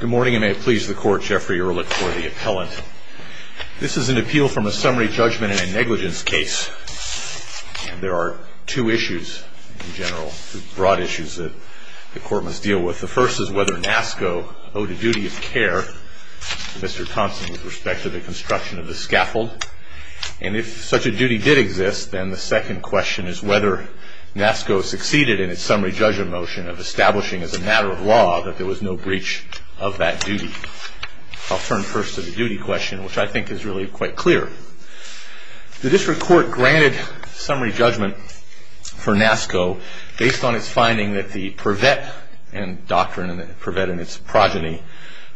Good morning and may it please the Court, Jeffrey Ehrlich for the Appellant. This is an appeal from a summary judgment in a negligence case. And there are two issues in general, broad issues that the Court must deal with. The first is whether NASCO owed a duty of care to Mr. Thompson with respect to the construction of the scaffold. And if such a duty did exist, then the second question is whether NASCO succeeded in its summary judgment motion of establishing as a matter of law that there was no breach of that duty. I'll turn first to the duty question, which I think is really quite clear. The District Court granted summary judgment for NASCO based on its finding that the purvet and doctrine, purvet and its progeny,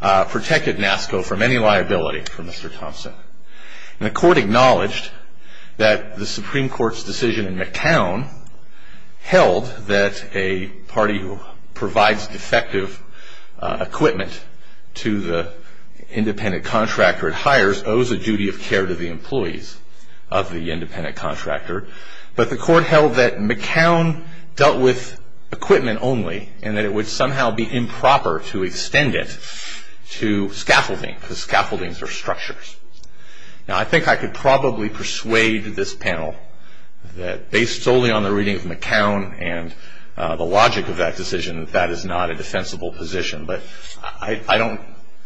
protected NASCO from any liability for Mr. Thompson. And the Court acknowledged that the Supreme Court's decision in McCown held that a party who provides defective equipment to the independent contractor it hires owes a duty of care to the employees of the independent contractor. But the Court held that McCown dealt with equipment only and that it would somehow be improper to extend it to scaffolding, because scaffoldings are structures. Now, I think I could probably persuade this panel that, based solely on the reading of McCown and the logic of that decision, that that is not a defensible position. But I don't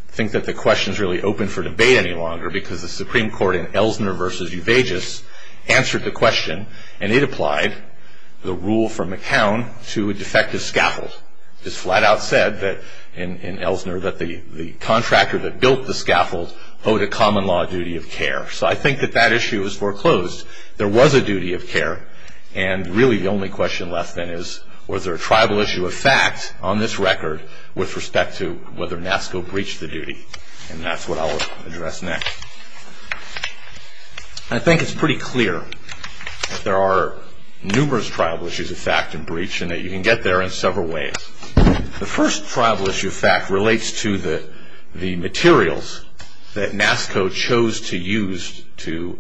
think that the question is really open for debate any longer, because the Supreme Court in Elsner v. Juvegis answered the question, and it applied the rule from McCown to a defective scaffold. It's flat out said in Elsner that the contractor that built the scaffold owed a common law duty of care. So I think that that issue is foreclosed. There was a duty of care, and really the only question left then is, was there a tribal issue of fact on this record with respect to whether NASCO breached the duty? And that's what I'll address next. I think it's pretty clear that there are numerous tribal issues of fact and breach, and that you can get there in several ways. The first tribal issue of fact relates to the materials that NASCO chose to use to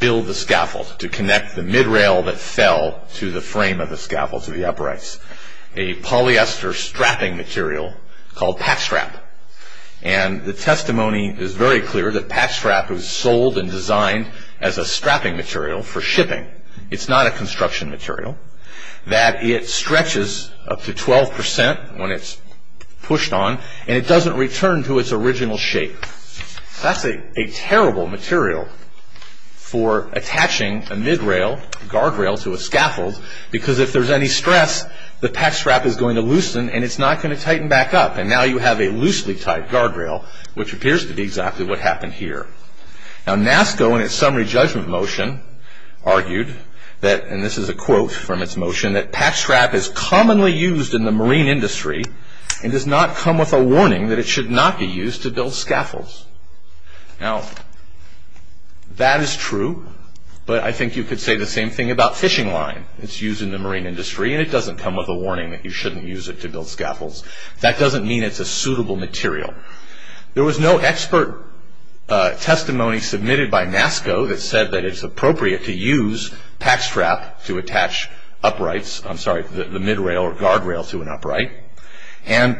build the scaffold, to connect the mid-rail that fell to the frame of the scaffold, to the uprights, a polyester strapping material called packstrap. And the testimony is very clear that packstrap was sold and designed as a strapping material for shipping. It's not a construction material. That it stretches up to 12% when it's pushed on, and it doesn't return to its original shape. That's a terrible material for attaching a mid-rail guardrail to a scaffold, because if there's any stress, the packstrap is going to loosen and it's not going to tighten back up. And now you have a loosely tied guardrail, which appears to be exactly what happened here. Now NASCO, in its summary judgment motion, argued that, and this is a quote from its motion, that packstrap is commonly used in the marine industry, and does not come with a warning that it should not be used to build scaffolds. Now, that is true, but I think you could say the same thing about fishing line. It's used in the marine industry, and it doesn't come with a warning that you shouldn't use it to build scaffolds. That doesn't mean it's a suitable material. There was no expert testimony submitted by NASCO that said that it's appropriate to use packstrap to attach uprights, I'm sorry, the mid-rail or guardrail to an upright. And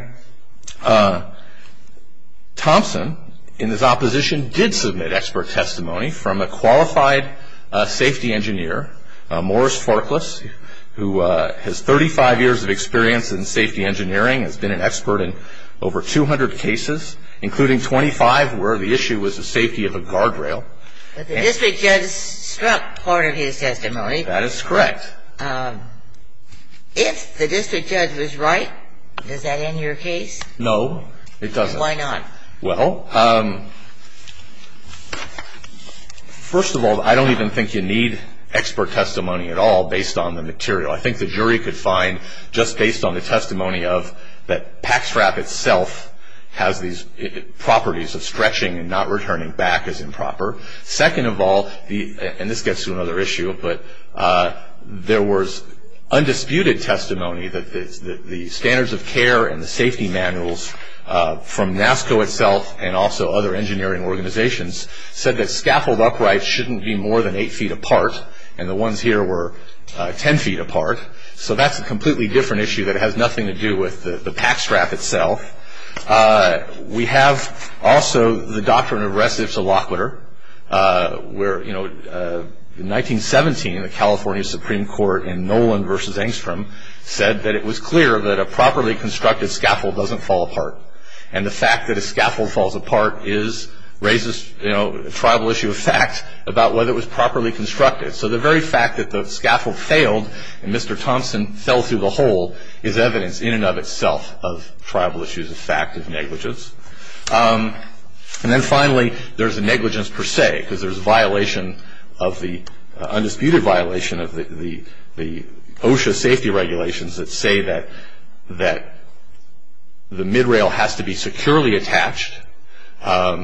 Thompson, in his opposition, did submit expert testimony from a qualified safety engineer, Morris Forkless, who has 35 years of experience in safety engineering, has been an expert in over 200 cases, including 25 where the issue was the safety of a guardrail. But the district judge struck part of his testimony. That is correct. If the district judge was right, does that end your case? No, it doesn't. Why not? Well, first of all, I don't even think you need expert testimony at all based on the material. I think the jury could find, just based on the testimony of that packstrap itself has these properties of stretching and not returning back as improper. Second of all, and this gets to another issue, but there was undisputed testimony that the standards of care and the safety manuals from NASCO itself and also other engineering organizations said that scaffold uprights shouldn't be more than eight feet apart. And the ones here were ten feet apart. So that's a completely different issue that has nothing to do with the packstrap itself. We have also the doctrine of restive soloquitur where, you know, in 1917, the California Supreme Court in Nolan v. Engstrom said that it was clear that a properly constructed scaffold doesn't fall apart. And the fact that a scaffold falls apart raises, you know, a tribal issue of fact about whether it was properly constructed. So the very fact that the scaffold failed and Mr. Thompson fell through the hole is evidence in and of itself of tribal issues of fact of negligence. And then finally, there's a negligence per se because there's a violation of the undisputed violation of the OSHA safety regulations that say that the midrail has to be securely attached and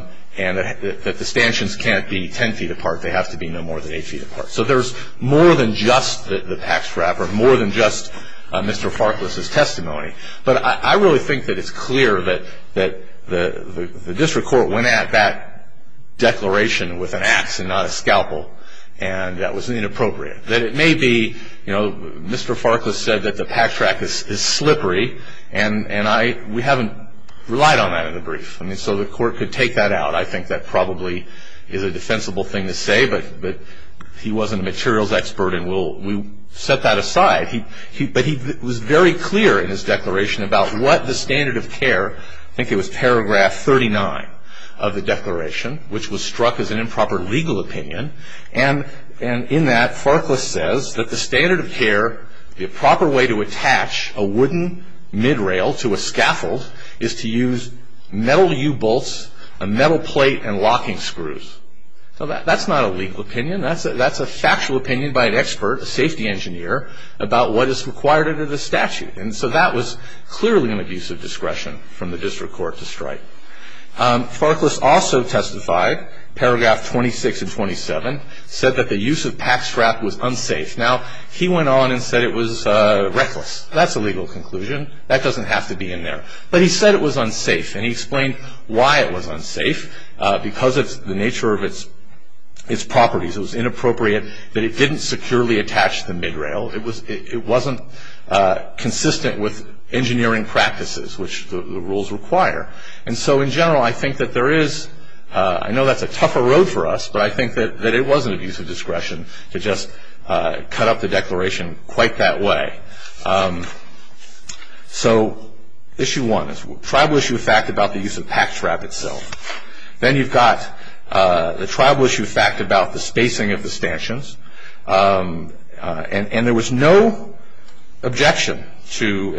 that the stanchions can't be ten feet apart. They have to be no more than eight feet apart. So there's more than just the packstrap or more than just Mr. Farkless's testimony. But I really think that it's clear that the district court went at that declaration with an ax and not a scalpel, and that was inappropriate. That it may be, you know, Mr. Farkless said that the packstrap is slippery, and we haven't relied on that in the brief. I mean, so the court could take that out. I think that probably is a defensible thing to say, but he wasn't a materials expert, and we'll set that aside. But he was very clear in his declaration about what the standard of care, I think it was paragraph 39 of the declaration, which was struck as an improper legal opinion. And in that, Farkless says that the standard of care, the proper way to attach a wooden midrail to a scaffold, is to use metal U-bolts, a metal plate, and locking screws. So that's not a legal opinion. That's a factual opinion by an expert, a safety engineer, about what is required under the statute. And so that was clearly an abuse of discretion from the district court to strike. Farkless also testified, paragraph 26 and 27, said that the use of packstrap was unsafe. Now, he went on and said it was reckless. That's a legal conclusion. That doesn't have to be in there. But he said it was unsafe, and he explained why it was unsafe. Because of the nature of its properties, it was inappropriate that it didn't securely attach the midrail. It wasn't consistent with engineering practices, which the rules require. And so in general, I think that there is – I know that's a tougher road for us, but I think that it was an abuse of discretion to just cut up the declaration quite that way. So issue one is tribal issue of fact about the use of packstrap itself. Then you've got the tribal issue of fact about the spacing of the stanchions. And there was no objection to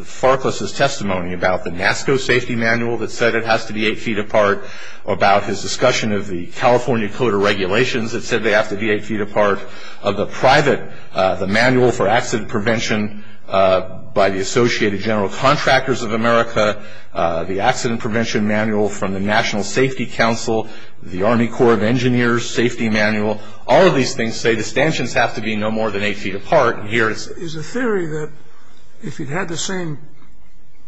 Farkless's testimony about the NASCO safety manual that said it has to be eight feet apart, about his discussion of the California code of regulations that said they have to be eight feet apart, of the manual for accident prevention by the Associated General Contractors of America, the accident prevention manual from the National Safety Council, the Army Corps of Engineers safety manual. All of these things say the stanchions have to be no more than eight feet apart. Is the theory that if you had the same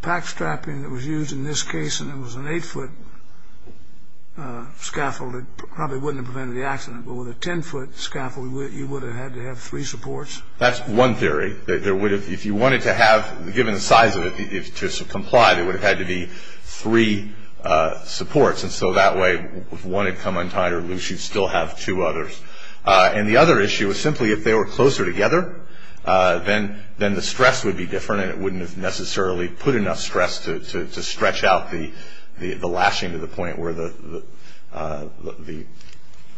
packstrapping that was used in this case and it was an eight-foot scaffold, it probably wouldn't have prevented the accident. But with a ten-foot scaffold, you would have had to have three supports? That's one theory. If you wanted to have – given the size of it to comply, there would have had to be three supports. And so that way, if one had come untied or loose, you'd still have two others. And the other issue is simply if they were closer together, then the stress would be different and it wouldn't have necessarily put enough stress to stretch out the lashing to the point where the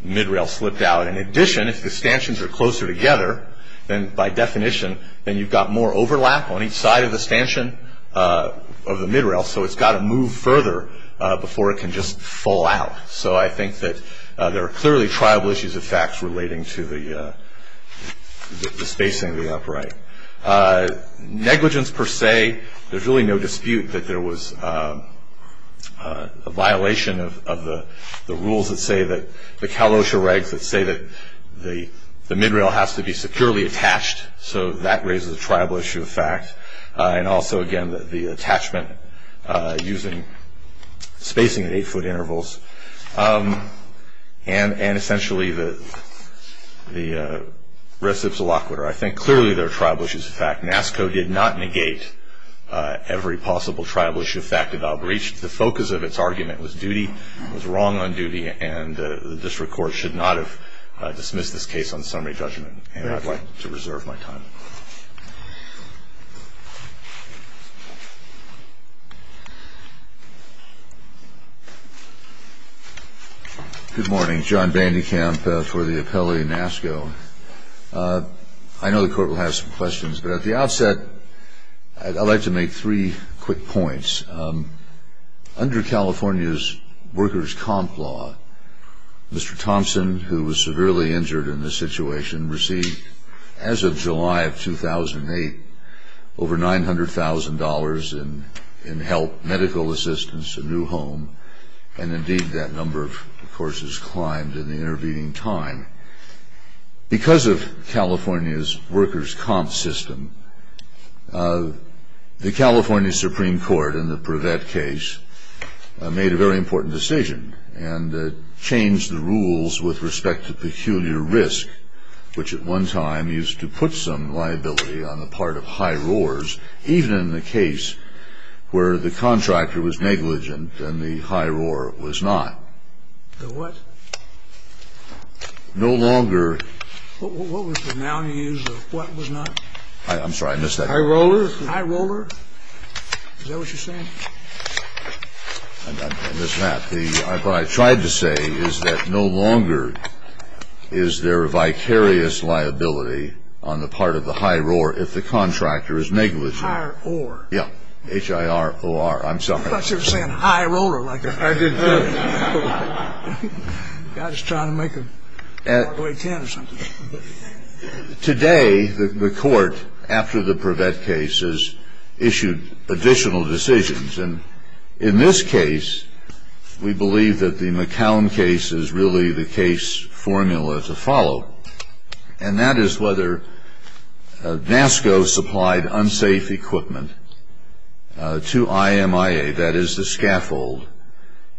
midrail slipped out. In addition, if the stanchions are closer together, then by definition, then you've got more overlap on each side of the stanchion of the midrail. So it's got to move further before it can just fall out. So I think that there are clearly triable issues of facts relating to the spacing of the upright. Negligence per se, there's really no dispute that there was a violation of the rules that say that – the Kalosha regs that say that the midrail has to be securely attached. And also, again, the attachment using spacing at eight-foot intervals. And essentially, the reciprocal aquiture. I think clearly there are triable issues of fact. NASCO did not negate every possible triable issue of fact about breach. The focus of its argument was duty, was wrong on duty, and the district court should not have dismissed this case on summary judgment. And I'd like to reserve my time. Good morning. John Bandekamp for the appellate NASCO. I know the court will have some questions, but at the outset, I'd like to make three quick points. Under California's workers' comp law, Mr. Thompson, who was severely injured in this situation, received, as of July of 2008, over $900,000 in help, medical assistance, a new home. And indeed, that number, of course, has climbed in the intervening time. Because of California's workers' comp system, the California Supreme Court in the Prevette case made a very important decision and changed the rules with respect to peculiar risk, which at one time used to put some liability on the part of high roars, even in the case where the contractor was negligent and the high roar was not. The what? No longer. What was the noun you used? The what was not? I'm sorry. I missed that. High rollers? High roller. Is that what you're saying? I missed that. What I tried to say is that no longer is there a vicarious liability on the part of the high roar if the contractor is negligent. Higher or. Yeah. H-I-R-O-R. I'm sorry. I thought you were saying high roller like that. I did, too. I was trying to make a hard way 10 or something. Today, the court, after the Prevette case, has issued additional decisions. And in this case, we believe that the McCown case is really the case formula to follow, and that is whether NASCO supplied unsafe equipment to IMIA, that is the scaffold,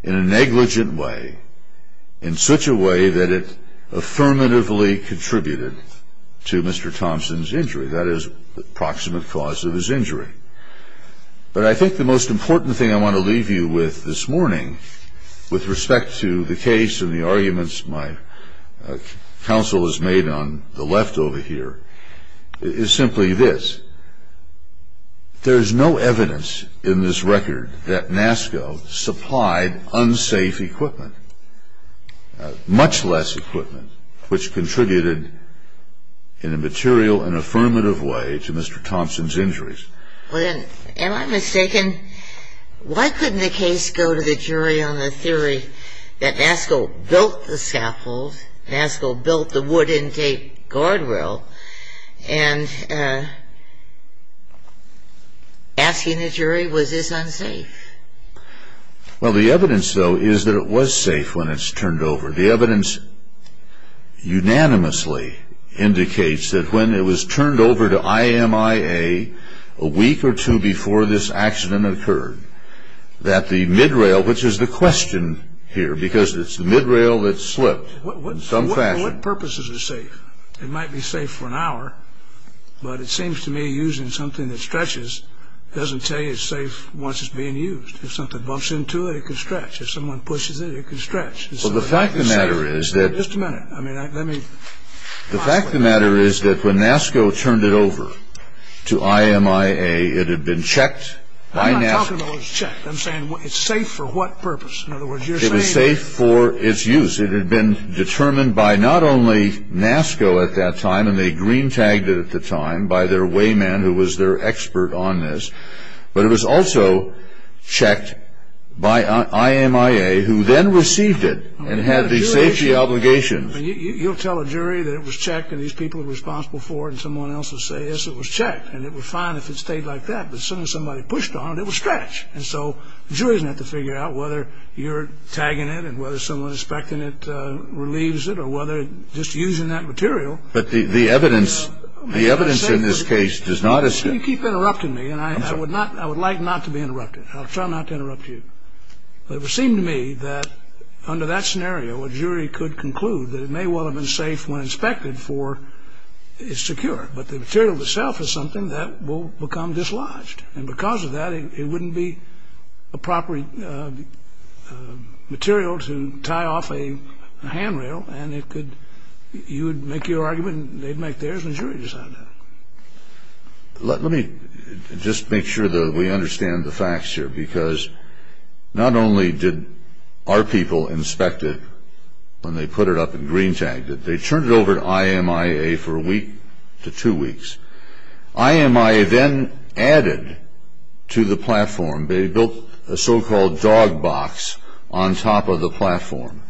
in a negligent way, in such a way that it affirmatively contributed to Mr. Thompson's injury. That is the proximate cause of his injury. But I think the most important thing I want to leave you with this morning, with respect to the case and the arguments my counsel has made on the left over here, is simply this. There is no evidence in this record that NASCO supplied unsafe equipment, much less equipment, which contributed in a material and affirmative way to Mr. Thompson's injuries. Am I mistaken? Why couldn't the case go to the jury on the theory that NASCO built the scaffolds, NASCO built the wood intake guardrail, and asking the jury, was this unsafe? Well, the evidence, though, is that it was safe when it's turned over. The evidence unanimously indicates that when it was turned over to IMIA a week or two before this accident occurred, that the mid-rail, which is the question here, because it's the mid-rail that slipped in some fashion. What purposes is safe? It might be safe for an hour, but it seems to me using something that stretches doesn't tell you it's safe once it's being used. If something bumps into it, it can stretch. If someone pushes it, it can stretch. Well, the fact of the matter is that... Just a minute. I mean, let me... The fact of the matter is that when NASCO turned it over to IMIA, it had been checked by NASCO... I'm not talking about it was checked. I'm saying it's safe for what purpose? In other words, you're saying... It was safe for its use. It had been determined by not only NASCO at that time, and they green-tagged it at the time, by their wayman who was their expert on this, but it was also checked by IMIA, who then received it and had the safety obligations. You'll tell a jury that it was checked and these people are responsible for it, and someone else will say, yes, it was checked, and it would be fine if it stayed like that. But as soon as somebody pushed on it, it would stretch. And so the jury doesn't have to figure out whether you're tagging it and whether someone inspecting it relieves it or whether just using that material... But the evidence in this case does not assume... Well, you keep interrupting me, and I would like not to be interrupted. I'll try not to interrupt you. But it would seem to me that under that scenario, a jury could conclude that it may well have been safe when inspected for it's secure, but the material itself is something that will become dislodged. And because of that, it wouldn't be a proper material to tie off a handrail, and you would make your argument and they'd make theirs, and the jury would decide that. Let me just make sure that we understand the facts here, because not only did our people inspect it when they put it up and green-tagged it, they turned it over to IMIA for a week to two weeks. IMIA then added to the platform, they built a so-called dog box on top of the platform.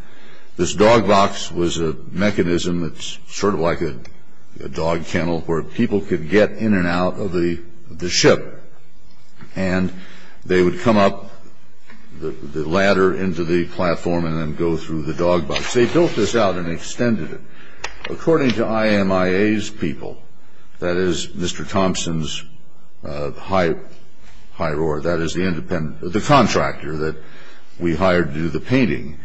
This dog box was a mechanism that's sort of like a dog kennel where people could get in and out of the ship, and they would come up the ladder into the platform and then go through the dog box. They built this out and extended it. According to IMIA's people, that is Mr. Thompson's hire, that is the contractor that we hired to do the painting,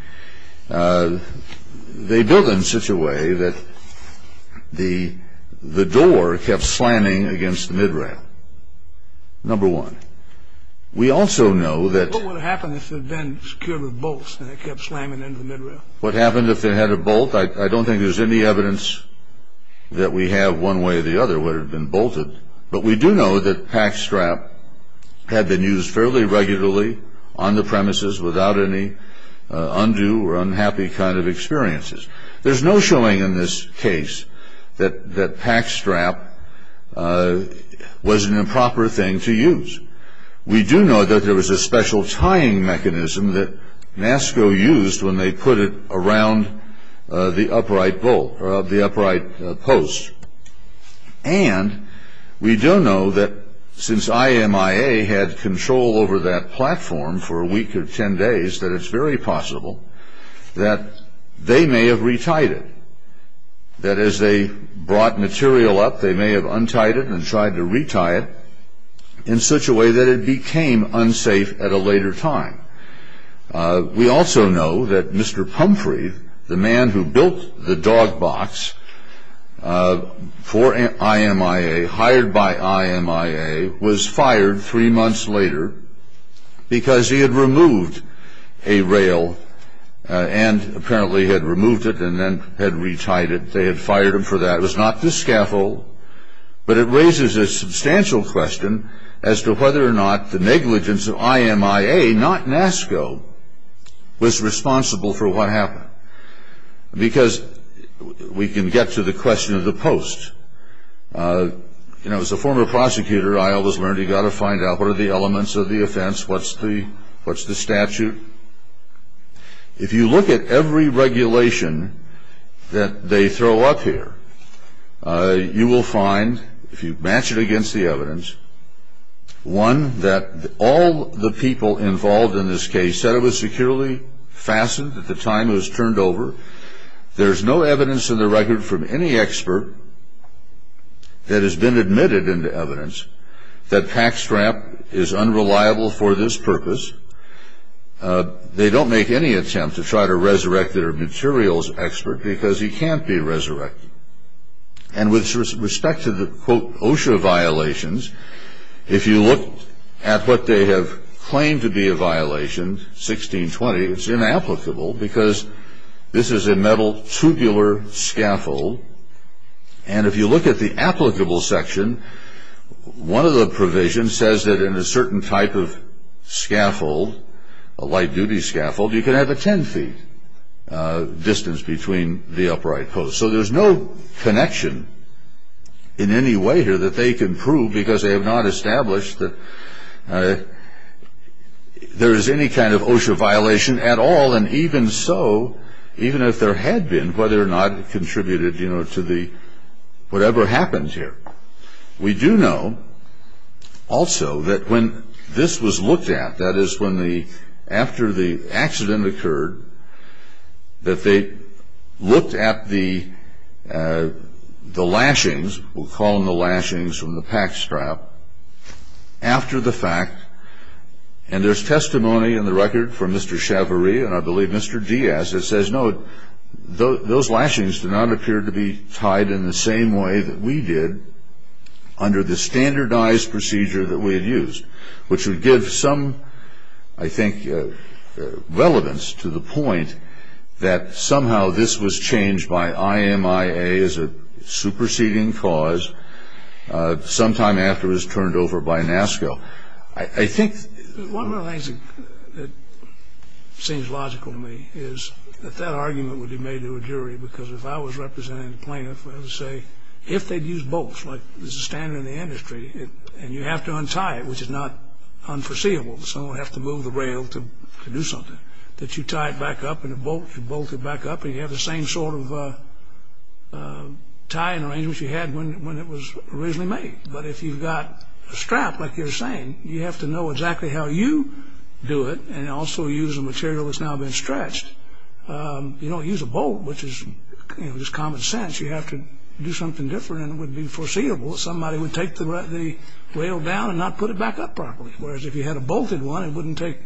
they built it in such a way that the door kept slamming against the mid-rail, number one. We also know that- What would have happened if it had been secured with bolts and it kept slamming into the mid-rail? What happened if it had a bolt? I don't think there's any evidence that we have one way or the other where it had been bolted, but we do know that pack strap had been used fairly regularly on the premises without any undue or unhappy kind of experiences. There's no showing in this case that pack strap was an improper thing to use. We do know that there was a special tying mechanism that NASCO used when they put it around the upright bolt or the upright post, and we do know that since IMIA had control over that platform for a week or ten days, that it's very possible that they may have retied it. That is, they brought material up, they may have untied it and tried to retie it in such a way that it became unsafe at a later time. We also know that Mr. Pumphrey, the man who built the dog box for IMIA, hired by IMIA, was fired three months later because he had removed a rail and apparently had removed it and then had retied it. They had fired him for that. It was not the scaffold, but it raises a substantial question as to whether or not the negligence of IMIA, not NASCO, was responsible for what happened. Because we can get to the question of the post. As a former prosecutor, I always learned you've got to find out what are the elements of the offense, what's the statute. If you look at every regulation that they throw up here, you will find, if you match it against the evidence, one, that all the people involved in this case said it was securely fastened at the time it was turned over. There's no evidence in the record from any expert that has been admitted into evidence that Packstrap is unreliable for this purpose. They don't make any attempt to try to resurrect their materials expert because he can't be resurrected. And with respect to the, quote, OSHA violations, if you look at what they have claimed to be a violation, 1620, it's inapplicable because this is a metal tubular scaffold. And if you look at the applicable section, one of the provisions says that in a certain type of scaffold, a light-duty scaffold, you can have a 10 feet distance between the upright post. So there's no connection in any way here that they can prove because they have not established that there is any kind of OSHA violation at all. And even so, even if there had been, whether or not it contributed, you know, to the whatever happens here. We do know also that when this was looked at, that is, when the, after the accident occurred, that they looked at the lashings. We'll call them the lashings from the Packstrap after the fact. And there's testimony in the record from Mr. Chavarri and I believe Mr. Diaz that says, no, those lashings do not appear to be tied in the same way that we did under the standardized procedure that we had used, which would give some, I think, relevance to the point that somehow this was changed by IMIA as a superseding cause sometime after it was turned over by NASCO. I think one of the things that seems logical to me is that that argument would be made to a jury because if I was representing the plaintiff, I would say, if they'd used both, like there's a standard in the industry, and you have to untie it, which is not unforeseeable, someone would have to move the rail to do something, that you tie it back up in a bolt, you bolt it back up, and you have the same sort of tying arrangements you had when it was originally made. But if you've got a strap, like you were saying, you have to know exactly how you do it and also use a material that's now been stretched. You don't use a bolt, which is, you know, just common sense. You have to do something different, and it would be foreseeable if somebody would take the rail down and not put it back up properly, whereas if you had a bolted one, it wouldn't take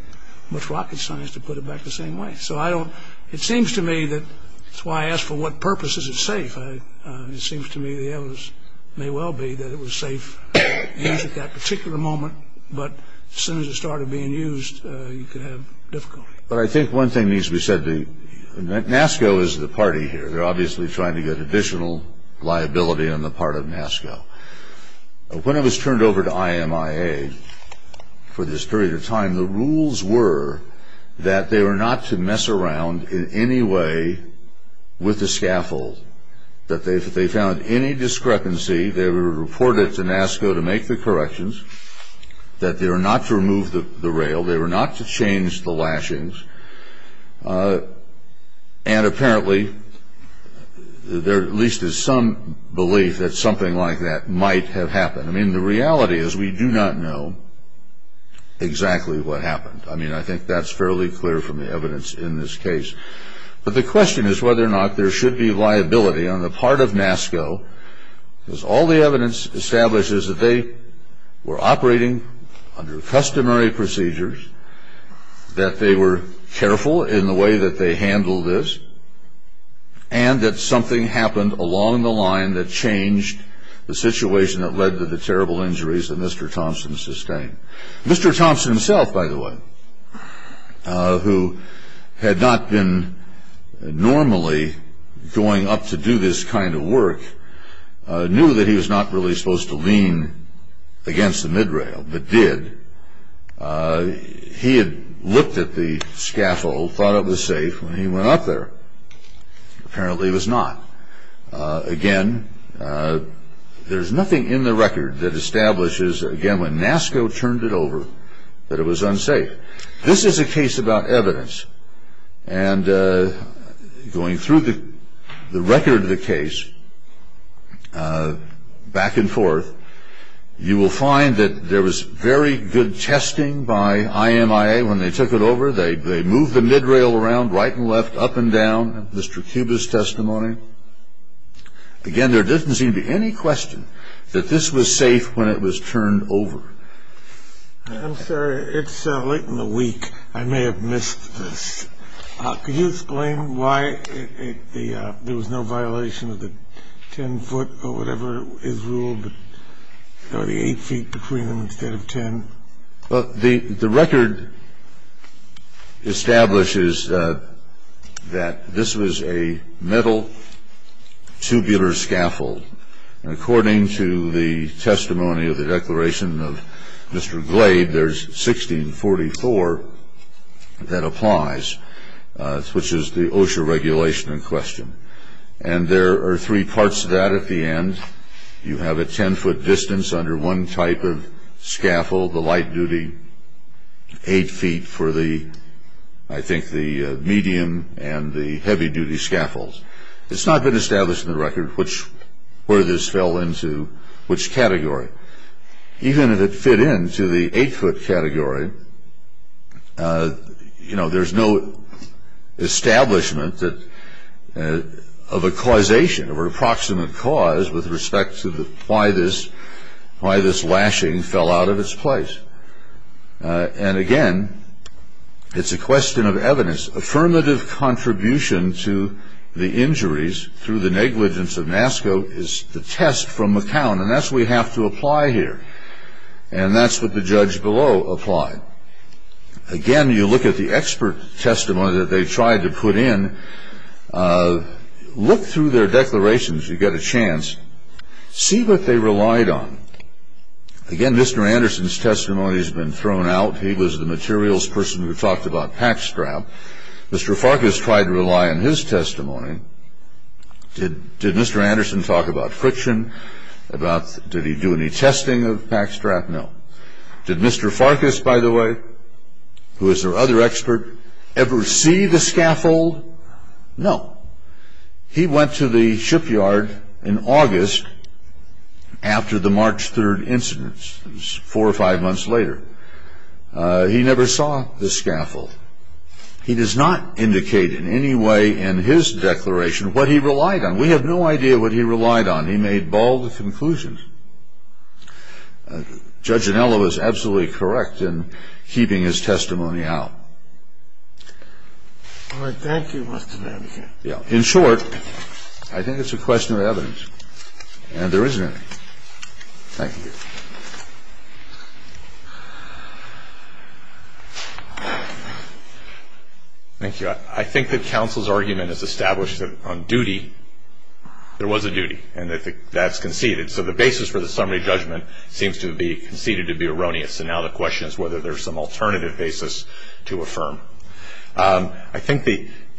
much rocket science to put it back the same way. So it seems to me that that's why I asked for what purpose is it safe. It seems to me the evidence may well be that it was safe at that particular moment, but as soon as it started being used, you could have difficulty. But I think one thing needs to be said. NASCO is the party here. They're obviously trying to get additional liability on the part of NASCO. When it was turned over to IMIA for this period of time, the rules were that they were not to mess around in any way with the scaffold, that if they found any discrepancy, they were reported to NASCO to make the corrections, that they were not to remove the rail, they were not to change the lashings, and apparently there at least is some belief that something like that might have happened. I mean, the reality is we do not know exactly what happened. I mean, I think that's fairly clear from the evidence in this case. But the question is whether or not there should be liability on the part of NASCO, because all the evidence establishes that they were operating under customary procedures, that they were careful in the way that they handled this, and that something happened along the line that changed the situation that led to the terrible injuries that Mr. Thompson sustained. Mr. Thompson himself, by the way, who had not been normally going up to do this kind of work, knew that he was not really supposed to lean against the mid-rail, but did. He had looked at the scaffold, thought it was safe, and he went up there. Apparently it was not. Again, there's nothing in the record that establishes, again, when NASCO turned it over, that it was unsafe. This is a case about evidence, and going through the record of the case back and forth, you will find that there was very good testing by IMIA when they took it over. They moved the mid-rail around right and left, up and down, Mr. Cuba's testimony. Again, there doesn't seem to be any question that this was safe when it was turned over. I'm sorry. It's late in the week. I may have missed this. Could you explain why there was no violation of the 10-foot or whatever is ruled, or the 8 feet between them instead of 10? The record establishes that this was a metal tubular scaffold. According to the testimony of the declaration of Mr. Glade, there's 1644 that applies, which is the OSHA regulation in question. And there are three parts to that at the end. You have a 10-foot distance under one type of scaffold, the light-duty 8 feet for the, I think, the medium and the heavy-duty scaffolds. It's not been established in the record where this fell into which category. Even if it fit into the 8-foot category, there's no establishment of a causation, of an approximate cause with respect to why this lashing fell out of its place. And, again, it's a question of evidence. Affirmative contribution to the injuries through the negligence of NASCO is the test from McCown, and that's what we have to apply here. And that's what the judge below applied. Again, you look at the expert testimony that they tried to put in. Look through their declarations. You get a chance. See what they relied on. Again, Mr. Anderson's testimony has been thrown out. He was the materials person who talked about pack strap. Mr. Farkas tried to rely on his testimony. Did Mr. Anderson talk about friction? Did he do any testing of pack strap? No. Did Mr. Farkas, by the way, who was their other expert, ever see the scaffold? No. He went to the shipyard in August after the March 3rd incident. It was four or five months later. He never saw the scaffold. He does not indicate in any way in his declaration what he relied on. We have no idea what he relied on. He made bold conclusions. Judge Anello is absolutely correct in keeping his testimony out. All right. Thank you, Mr. Anderson. In short, I think it's a question of evidence, and there isn't any. Thank you. Thank you. I think that counsel's argument is established that on duty, there was a duty, and that that's conceded. So the basis for the summary judgment seems to be conceded to be erroneous, and now the question is whether there's some alternative basis to affirm. I think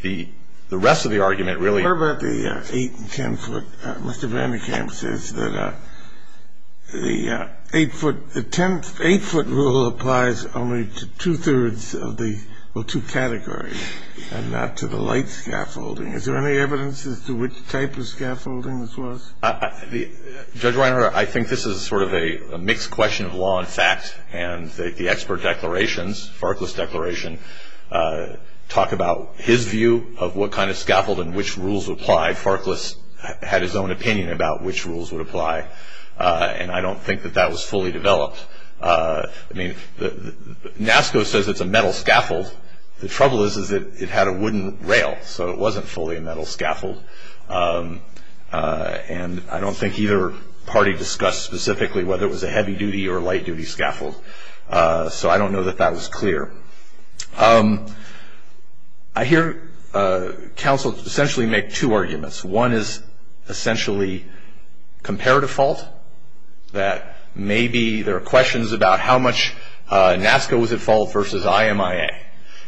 the rest of the argument really — What about the eight and ten-foot? Mr. Vandekamp says that the eight-foot rule applies only to two-thirds of the — well, two categories, and not to the light scaffolding. Is there any evidence as to which type of scaffolding this was? Judge Weiner, I think this is sort of a mixed question of law and fact, and the expert declarations, Farkless declaration, talk about his view of what kind of scaffold and which rules apply. Farkless had his own opinion about which rules would apply, and I don't think that that was fully developed. I mean, NASCO says it's a metal scaffold. The trouble is that it had a wooden rail, so it wasn't fully a metal scaffold, and I don't think either party discussed specifically whether it was a heavy-duty or a light-duty scaffold, so I don't know that that was clear. I hear counsel essentially make two arguments. One is essentially comparative fault, that maybe there are questions about how much NASCO was at fault versus IMIA.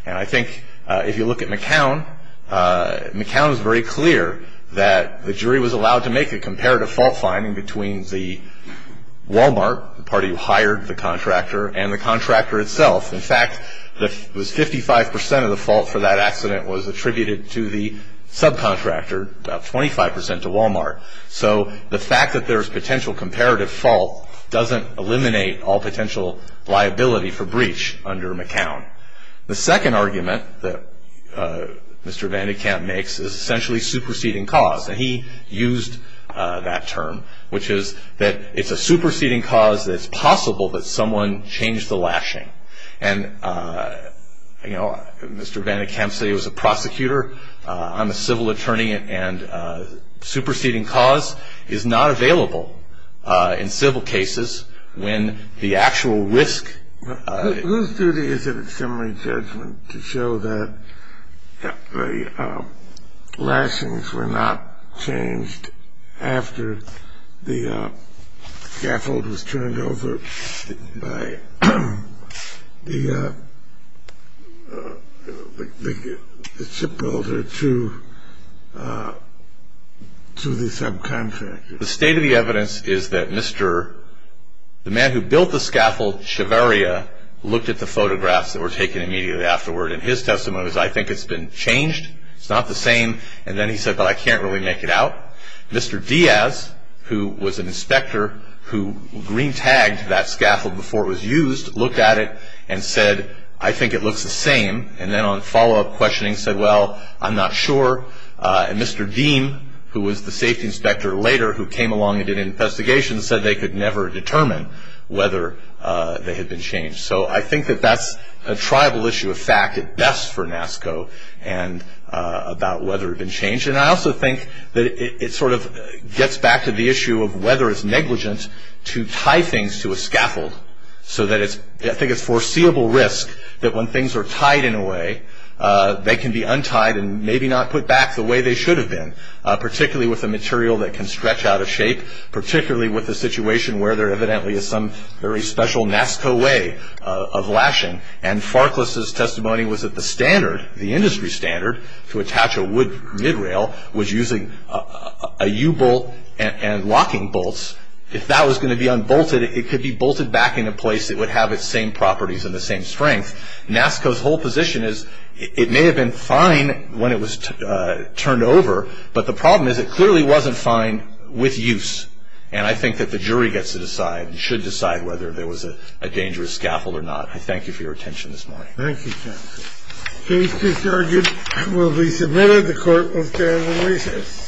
And I think if you look at McCown, McCown is very clear that the jury was allowed to make a comparative fault finding between the Wal-Mart, the party who hired the contractor, and the contractor itself. In fact, it was 55 percent of the fault for that accident was attributed to the subcontractor, about 25 percent to Wal-Mart. So the fact that there's potential comparative fault doesn't eliminate all potential liability for breach under McCown. The second argument that Mr. Van de Kamp makes is essentially superseding cause, and he used that term, which is that it's a superseding cause that it's possible that someone changed the lashing. And, you know, Mr. Van de Kamp said he was a prosecutor, I'm a civil attorney, and superseding cause is not available in civil cases when the actual risk. Whose duty is it in summary judgment to show that the lashings were not changed after the scaffold was turned over by the shipbuilder to the subcontractor. The state of the evidence is that Mr. The man who built the scaffold, Cheveria, looked at the photographs that were taken immediately afterward, and his testimony was, I think it's been changed. It's not the same. And then he said, well, I can't really make it out. Mr. Diaz, who was an inspector who green-tagged that scaffold before it was used, looked at it and said, I think it looks the same. And then on follow-up questioning said, well, I'm not sure. And Mr. Deem, who was the safety inspector later who came along and did an investigation, said they could never determine whether they had been changed. So I think that that's a tribal issue of fact at best for NASCO and about whether it had been changed. And I also think that it sort of gets back to the issue of whether it's negligent to tie things to a scaffold. So I think it's foreseeable risk that when things are tied in a way, they can be untied and maybe not put back the way they should have been, particularly with a material that can stretch out of shape, particularly with a situation where there evidently is some very special NASCO way of lashing. And Farkless's testimony was that the standard, the industry standard, to attach a wood mid-rail was using a U-bolt and locking bolts. If that was going to be unbolted, it could be bolted back into place. It would have its same properties and the same strength. NASCO's whole position is it may have been fine when it was turned over, but the problem is it clearly wasn't fine with use. And I think that the jury gets to decide and should decide whether there was a dangerous scaffold or not. I thank you for your attention this morning. Thank you, counsel. Case discharged will be submitted. The court will stand on recess.